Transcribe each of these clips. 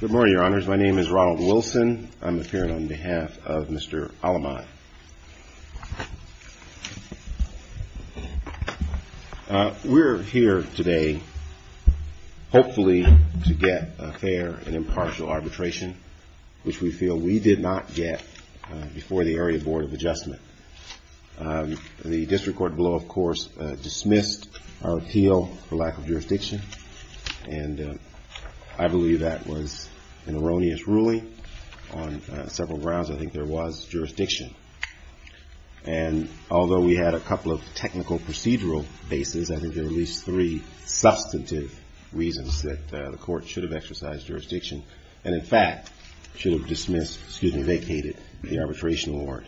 Good morning, Your Honors. My name is Ronald Wilson. I'm appearing on behalf of Mr. Alamad. We're here today, hopefully, to get a fair and impartial arbitration, which we feel we did not get before the Area Board of Adjustment. The District Court below, of course, dismissed our appeal for lack of jurisdiction. And I believe that was an erroneous ruling on several grounds. I think there was jurisdiction. And although we had a couple of technical procedural bases, I think there were at least three substantive reasons that the Court should have exercised jurisdiction and, in fact, should have vacated the arbitration award.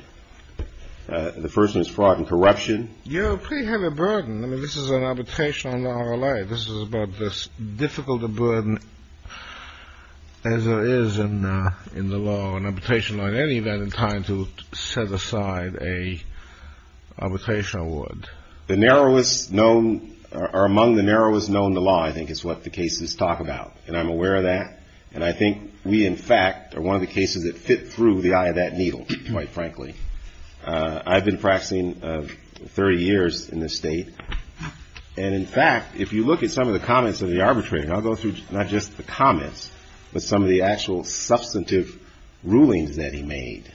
The first one is fraud and corruption. You have a pretty heavy burden. I mean, this is an arbitration under our law. This is about as difficult a burden as there is in the law, in arbitration law, in any event, in trying to set aside an arbitration award. The narrowest known, or among the narrowest known to law, I think, is what the cases talk about. And I'm aware of that. And I think we, in fact, are one of the cases that fit through the eye of that needle, quite frankly. I've been practicing 30 years in this state. And, in fact, if you look at some of the comments of the arbitrator, I'll go through not just the comments, but some of the actual substantive rulings that he made.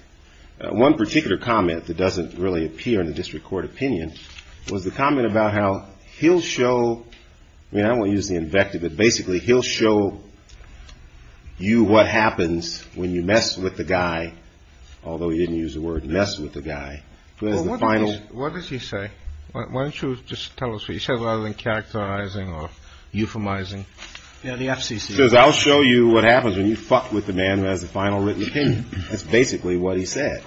One particular comment that doesn't really appear in the District Court opinion was the comment about how he'll show, I mean, I won't use the invective, but basically he'll show you what happens when you mess with the guy, although he didn't use the word mess with the guy. Well, what does he say? Why don't you just tell us what he said, rather than characterizing or euphemizing? Yeah, the FCC. He says, I'll show you what happens when you fuck with the man who has the final written opinion. That's basically what he said.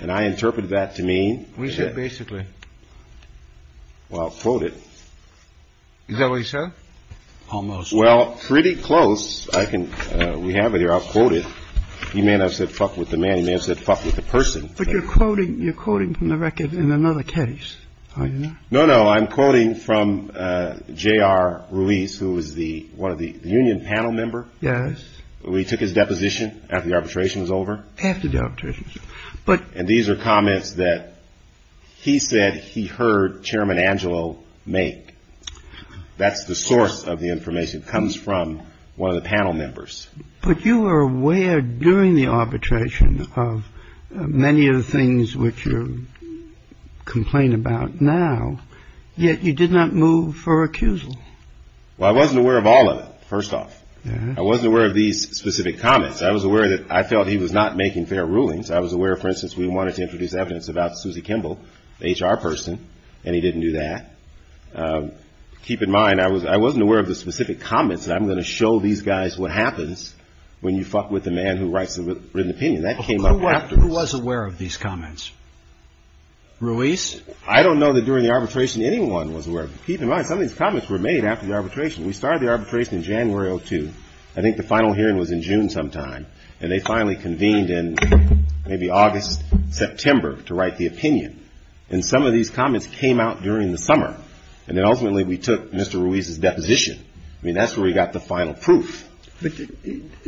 And I interpreted that to mean... What did he say basically? Well, I'll quote it. Is that what he said? Almost. Well, pretty close. I can, we have it here. I'll quote it. He may not have said fuck with the man. He may have said fuck with the person. But you're quoting from the record in another case, are you not? No, no. I'm quoting from J.R. Ruiz, who was the, one of the union panel member. Yes. He took his deposition after the arbitration was over. After the arbitration. But... And these are comments that he said he heard Chairman Angelo make. That's the source of the information. It comes from one of the panel members. But you were aware during the arbitration of many of the things which you complain about now, yet you did not move for accusal. Well, I wasn't aware of all of it, first off. I wasn't aware of these specific comments. I was aware that I felt he was not making fair rulings. I was aware, for instance, we wanted to introduce evidence about Susie Kimball, the HR person, and he didn't do that. Keep in mind, I was, I wasn't aware of the specific comments that I'm going to show these guys what happens when you fuck with the man who writes the written opinion. That came up afterwards. Who was aware of these comments? Ruiz? I don't know that during the arbitration anyone was aware. Keep in mind, some of these comments were made after the arbitration. We started the arbitration in January of 2002. I think the final hearing was in June sometime. And they finally convened in maybe August, September, to write the opinion. And some of these comments came out during the summer. And then ultimately we took Mr. Ruiz's opinion and got the final proof. But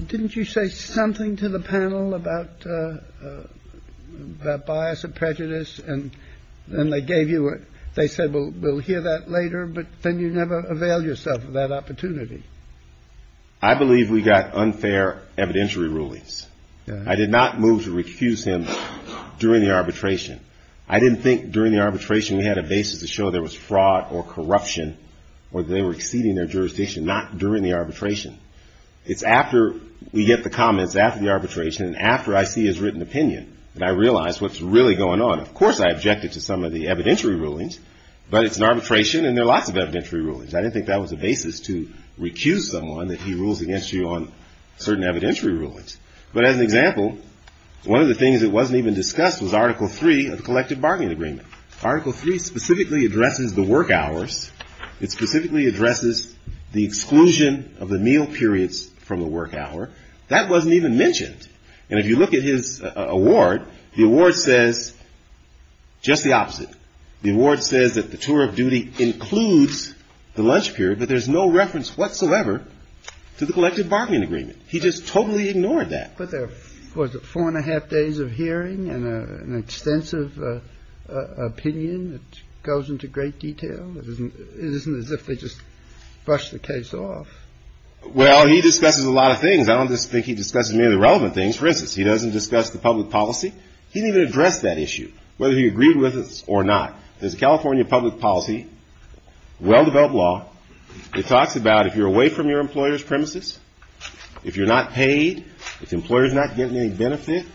didn't you say something to the panel about bias or prejudice? And then they gave you a, they said we'll hear that later, but then you never avail yourself of that opportunity. I believe we got unfair evidentiary rulings. I did not move to refuse him during the arbitration. I didn't think during the arbitration we had a basis to show there was fraud or corruption or they were exceeding their jurisdiction, not during the arbitration. It's after we get the comments after the arbitration and after I see his written opinion that I realize what's really going on. Of course I objected to some of the evidentiary rulings, but it's an arbitration and there are lots of evidentiary rulings. I didn't think that was a basis to recuse someone that he rules against you on certain evidentiary rulings. But as an example, one of the things that wasn't even discussed was Article III of the Collective Bargaining Agreement. Article III specifically addresses the work hours. It specifically addresses the exclusion of the meal periods from the work hour. That wasn't even mentioned. And if you look at his award, the award says just the opposite. The award says that the tour of duty includes the lunch period, but there's no reference whatsoever to the Collective Bargaining Agreement. He just totally ignored that. But there was four and a half days of hearing and an extensive opinion that goes into great detail. It isn't as if they just brushed the case off. Well, he discusses a lot of things. I don't think he discusses merely relevant things. For instance, he doesn't discuss the public policy. He didn't even address that issue, whether he agreed with it or not. There's a California public policy, well-developed law. It talks about if you're away from your employer's premises, if you're not paid, if the employer's not getting any benefit,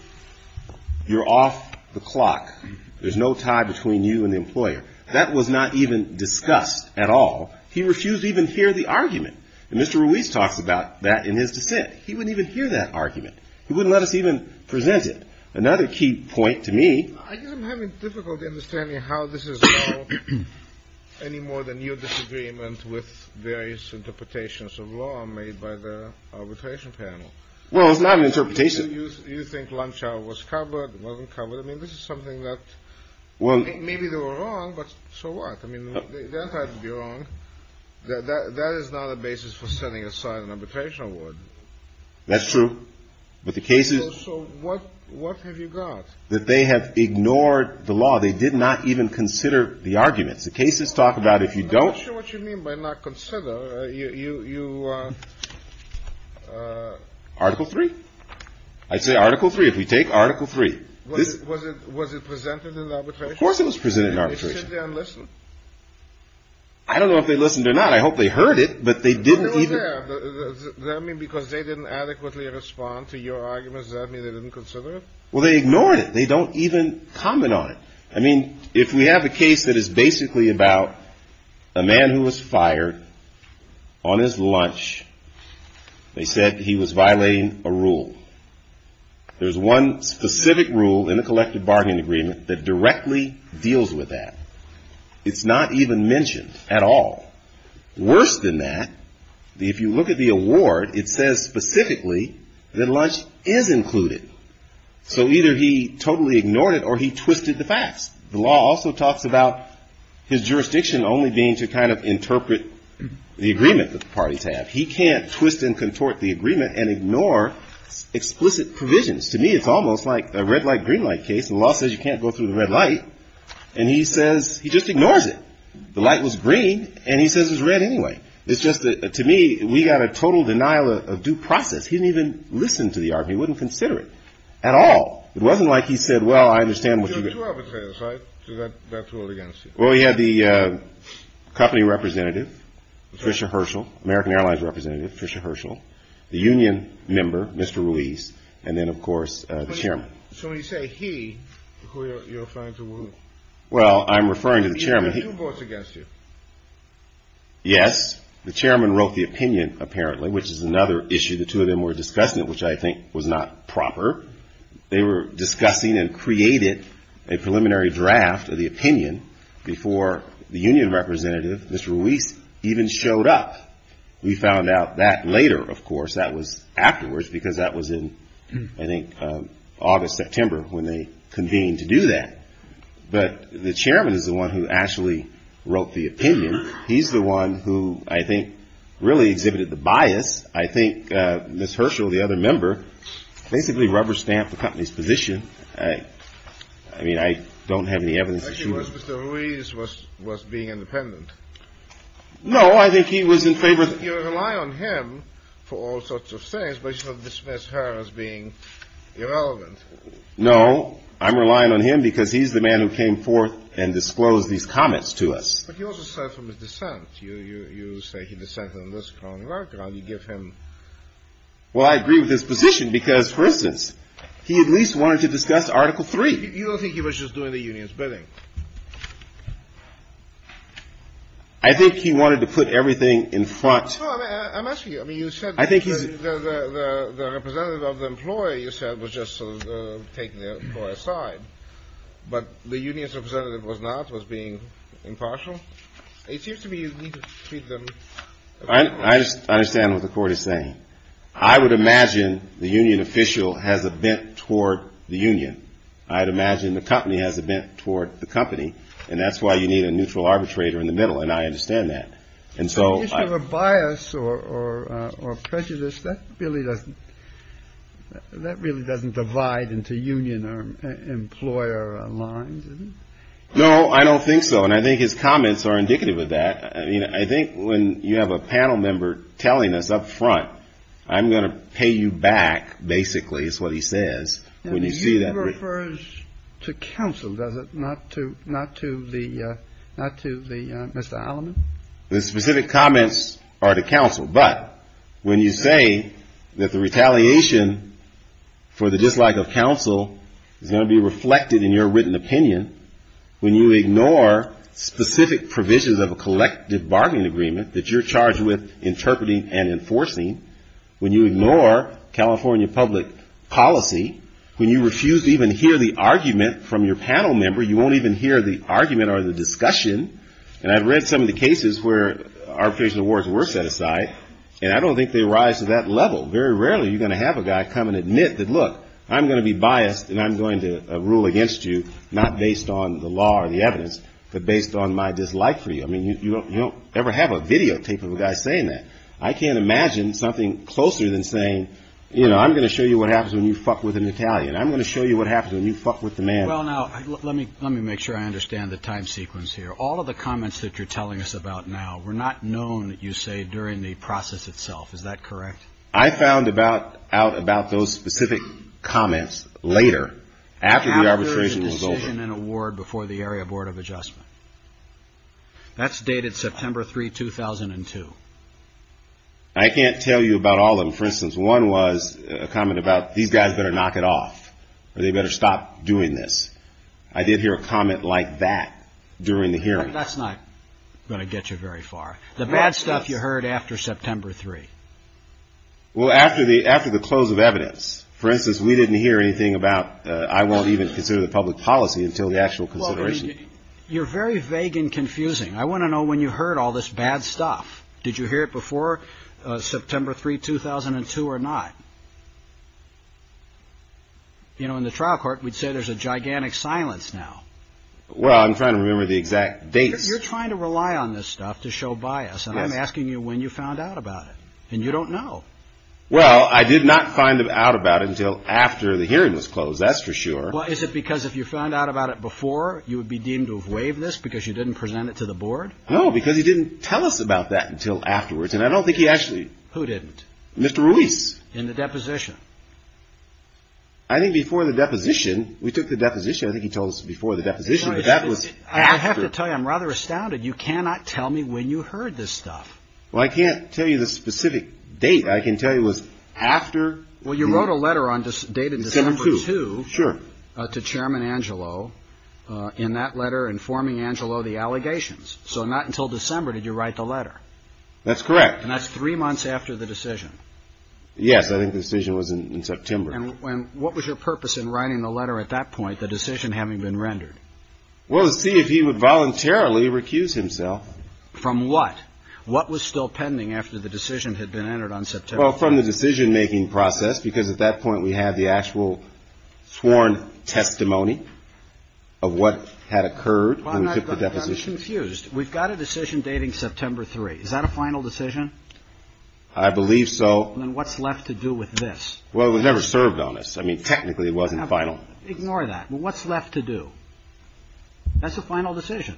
you're off the clock. There's no tie between you and the employer. That was not even discussed at all. He refused to even hear the argument. And Mr. Ruiz talks about that in his dissent. He wouldn't even hear that argument. He wouldn't let us even present it. Another key point to me... I guess I'm having difficulty understanding how this is now any more than your disagreement with various interpretations of law made by the arbitration panel. Well, it's not an interpretation. You think lunch hour was covered, wasn't covered. I mean, this is something that... Maybe they were wrong, but so what? I mean, they're entitled to be wrong. That is not a basis for setting aside an arbitration award. That's true. But the cases... So what have you got? That they have ignored the law. They did not even consider the arguments. The cases talk about if you don't... I'm not sure what you mean by not consider. You... Article 3. I'd say Article 3. If we take Article 3. Was it presented in arbitration? Of course it was presented in arbitration. And they shouldn't have listened. I don't know if they listened or not. I hope they heard it, but they didn't... They were there. Does that mean because they didn't adequately respond to your arguments, does that mean they didn't consider it? Well, they ignored it. They don't even comment on it. I mean, if we have a case that is basically about a man who was fired on his lunch, they said he was violating a rule. There's one specific rule in the collective bargaining agreement that directly deals with that. It's not even mentioned at all. Worse than that, if you look at the award, it says specifically that lunch is included. So either he totally ignored it or he twisted the facts. The law also talks about his jurisdiction only being to kind of interpret the agreement that the parties have. He can't twist and ignore explicit provisions. To me, it's almost like a red light, green light case. The law says you can't go through the red light, and he says he just ignores it. The light was green, and he says it's red anyway. It's just that, to me, we got a total denial of due process. He didn't even listen to the argument. He wouldn't consider it at all. It wasn't like he said, well, I understand what you... There were two arbitrators, right, to that rule against you? Well, we had the company representative, Fisher Herschel, American member, Mr. Ruiz, and then, of course, the chairman. So when you say he, you're referring to who? Well, I'm referring to the chairman. He had two votes against you? Yes. The chairman wrote the opinion, apparently, which is another issue. The two of them were discussing it, which I think was not proper. They were discussing and created a preliminary draft of the opinion before the union representative, Mr. Ruiz, even showed up. We found out that later, of course, that was afterwards, because that was in, I think, August, September, when they convened to do that. But the chairman is the one who actually wrote the opinion. He's the one who, I think, really exhibited the bias. I think Ms. Herschel, the other member, basically rubber-stamped the company's position. I mean, I don't have any evidence that she was... I think it was Mr. Ruiz was being independent. No, I think he was in favor of... You're relying on him for all sorts of things, but you don't dismiss her as being irrelevant. No, I'm relying on him because he's the man who came forth and disclosed these comments to us. But he also said from his dissent, you say he dissented on this kind of background. You give him... Well, I agree with his position because, for instance, he at least wanted to discuss Article 3. You don't think he was just doing the union's bidding? I think he wanted to put everything in front... No, I'm asking you. I mean, you said the representative of the employee, you said, was just sort of taking the employee aside. But the union's representative was not, was being impartial? It seems to me you need to treat them... I understand what the Court is saying. I would imagine the union official has a bent toward the union. I'd imagine the company has a bent toward the company. And that's why you need a neutral arbitrator in the middle. And I understand that. In the case of a bias or prejudice, that really doesn't divide into union or employer lines, is it? No, I don't think so. And I think his comments are indicative of that. I mean, I think when you have a panel member telling us up front, I'm going to pay you back, basically, is what he says, when you see that... To counsel, does it? Not to Mr. Alleman? The specific comments are to counsel. But when you say that the retaliation for the dislike of counsel is going to be reflected in your written opinion, when you ignore specific provisions of a collective bargaining agreement that you're charged with interpreting and enforcing, when you ignore California public policy, when you even hear the argument from your panel member, you won't even hear the argument or the discussion. And I've read some of the cases where arbitration awards were set aside, and I don't think they rise to that level. Very rarely are you going to have a guy come and admit that, look, I'm going to be biased and I'm going to rule against you, not based on the law or the evidence, but based on my dislike for you. I mean, you don't ever have a videotape of a guy saying that. I can't imagine something closer than saying, you know, I'm going to show you what happens when you fuck with an Italian. I'm going to show you what happens when you fuck with a man. Well, now, let me make sure I understand the time sequence here. All of the comments that you're telling us about now were not known, you say, during the process itself. Is that correct? I found out about those specific comments later, after the arbitration was over. How could there be a decision and award before the Area Board of Adjustment? That's dated September 3, 2002. I can't tell you about all of them. For instance, one was a comment about, these guys better knock it off, or they better stop doing this. I did hear a comment like that during the hearing. That's not going to get you very far. The bad stuff you heard after September 3. Well, after the close of evidence, for instance, we didn't hear anything about, I won't even consider the public policy until the actual consideration. You're very vague and confusing. I want to know when you heard all this bad stuff. Did you hear it before September 3, 2002 or not? You know, in the trial court, we'd say there's a gigantic silence now. Well, I'm trying to remember the exact dates. You're trying to rely on this stuff to show bias. I'm asking you when you found out about it, and you don't know. Well, I did not find out about it until after the hearing was closed. That's for sure. Well, is it because if you found out about it before, you would be deemed to have waived this because you didn't present it to the board? No, because he didn't tell us about that until afterwards. And I don't think he actually... Who didn't? Mr. Ruiz. In the deposition? I think before the deposition, we took the deposition. I think he told us before the deposition, but that was after... I have to tell you, I'm rather astounded. You cannot tell me when you heard this stuff. Well, I can't tell you the specific date. I can tell you it was after... Well, you wrote a letter dated December 2 to Chairman Angelo in that letter informing Angelo of the allegations. So not until December did you write the letter. That's correct. And that's three months after the decision. Yes, I think the decision was in September. And what was your purpose in writing the letter at that point, the decision having been rendered? Well, to see if he would voluntarily recuse himself. From what? What was still pending after the decision had been entered on September 3? Well, from the decision-making process, because at that point we had the actual sworn testimony of what had occurred when we took the deposition. I'm confused. We've got a decision dating September 3. Is that a final decision? I believe so. And what's left to do with this? Well, it never served on us. I mean, technically it wasn't final. Ignore that. What's left to do? That's a final decision.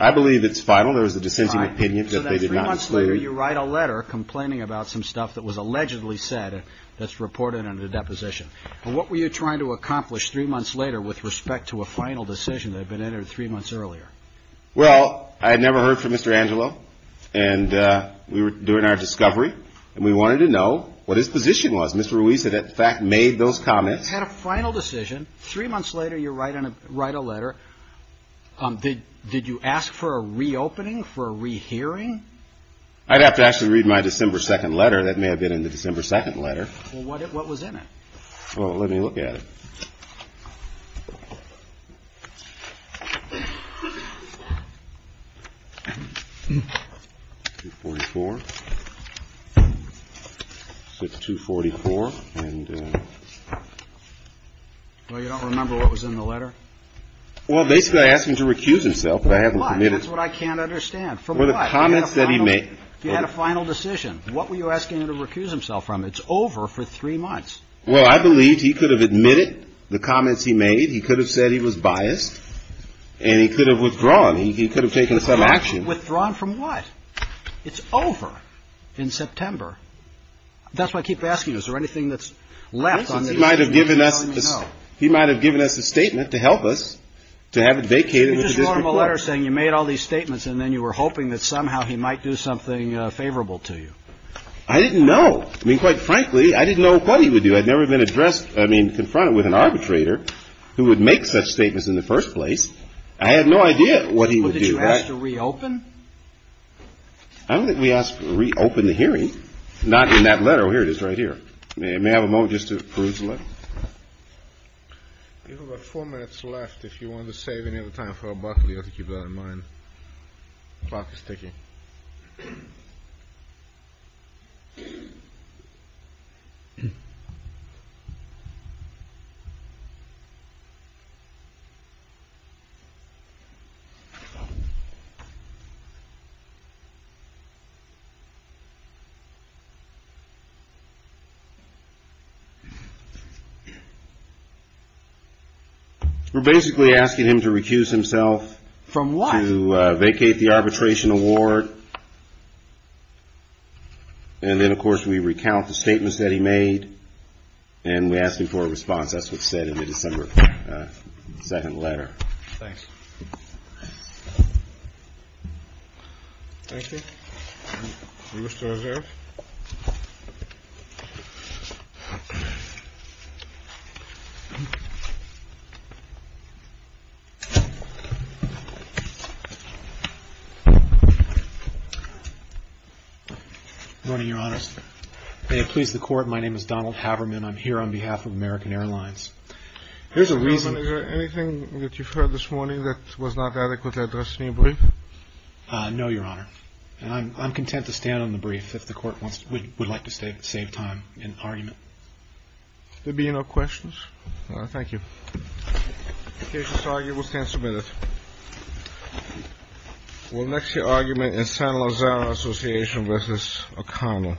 I believe it's final. There was a dissenting opinion that they did not... So that three months later you write a letter complaining about some stuff that was allegedly said that's reported under the deposition. And what were you trying to accomplish three months later with respect to a final decision that had been entered three months earlier? Well, I had never heard from Mr. Angelo and we were doing our discovery and we wanted to know what his position was. Mr. Ruiz had in fact made those comments. You had a final decision. Three months later you write a letter. Did you ask for a reopening, for a rehearing? I'd have to actually read my December 2nd letter. That may have been in the December 2nd letter. Well, what was in it? Well, let me look at it. It's 244 and... Well, you don't remember what was in the letter? Well, basically I asked him to recuse himself, but I haven't committed... For what? That's what I can't understand. For what? Well, the comments that he made... You had a final decision. What were you asking him to recuse himself from? It's over for three months. Well, I believe he could have admitted the comments he made. the letter. He could have said he was biased and he could have withdrawn he could have taken some action. Withdrawn from what? It's over in September. That's why I keep asking you, is there anything that's left on this? He might have given us a statement to help us to have it vacated. You just wrote him a letter saying you made all these statements and then you were hoping that somehow he might do something favorable to you. I didn't know. I mean, quite frankly, I didn't know what he would do. I'd never been confronted with an arbitrator who would make such what he would do. Did you ask to reopen? I don't think we asked to reopen the hearing. Not in that letter. Oh, here it is right here. May I have a moment just to peruse the letter? You've got four minutes left. If you want to save any of the time for a buck, you have to keep that in mind. Clock is ticking. We're basically asking him to recuse himself. From what? To vacate the arbitration award. And then, of course, we recount the statements that he made. And we asked him for a response. That's what's said in the December 2nd letter. Thanks. Thank you. Morning, Your Honor. May it please the court. My name is Donald Haberman. I'm here on behalf of American Airlines. Here's a reason. Is there anything that you've heard this morning that was not adequately addressed in your brief? No, Your Honor. And I'm content to stand on the brief if the court would like to save time in argument. There be no questions. Thank you. The case is argued. We'll stand submitted. We'll next hear argument in San Lozano Association v. O'Connor. Thank you.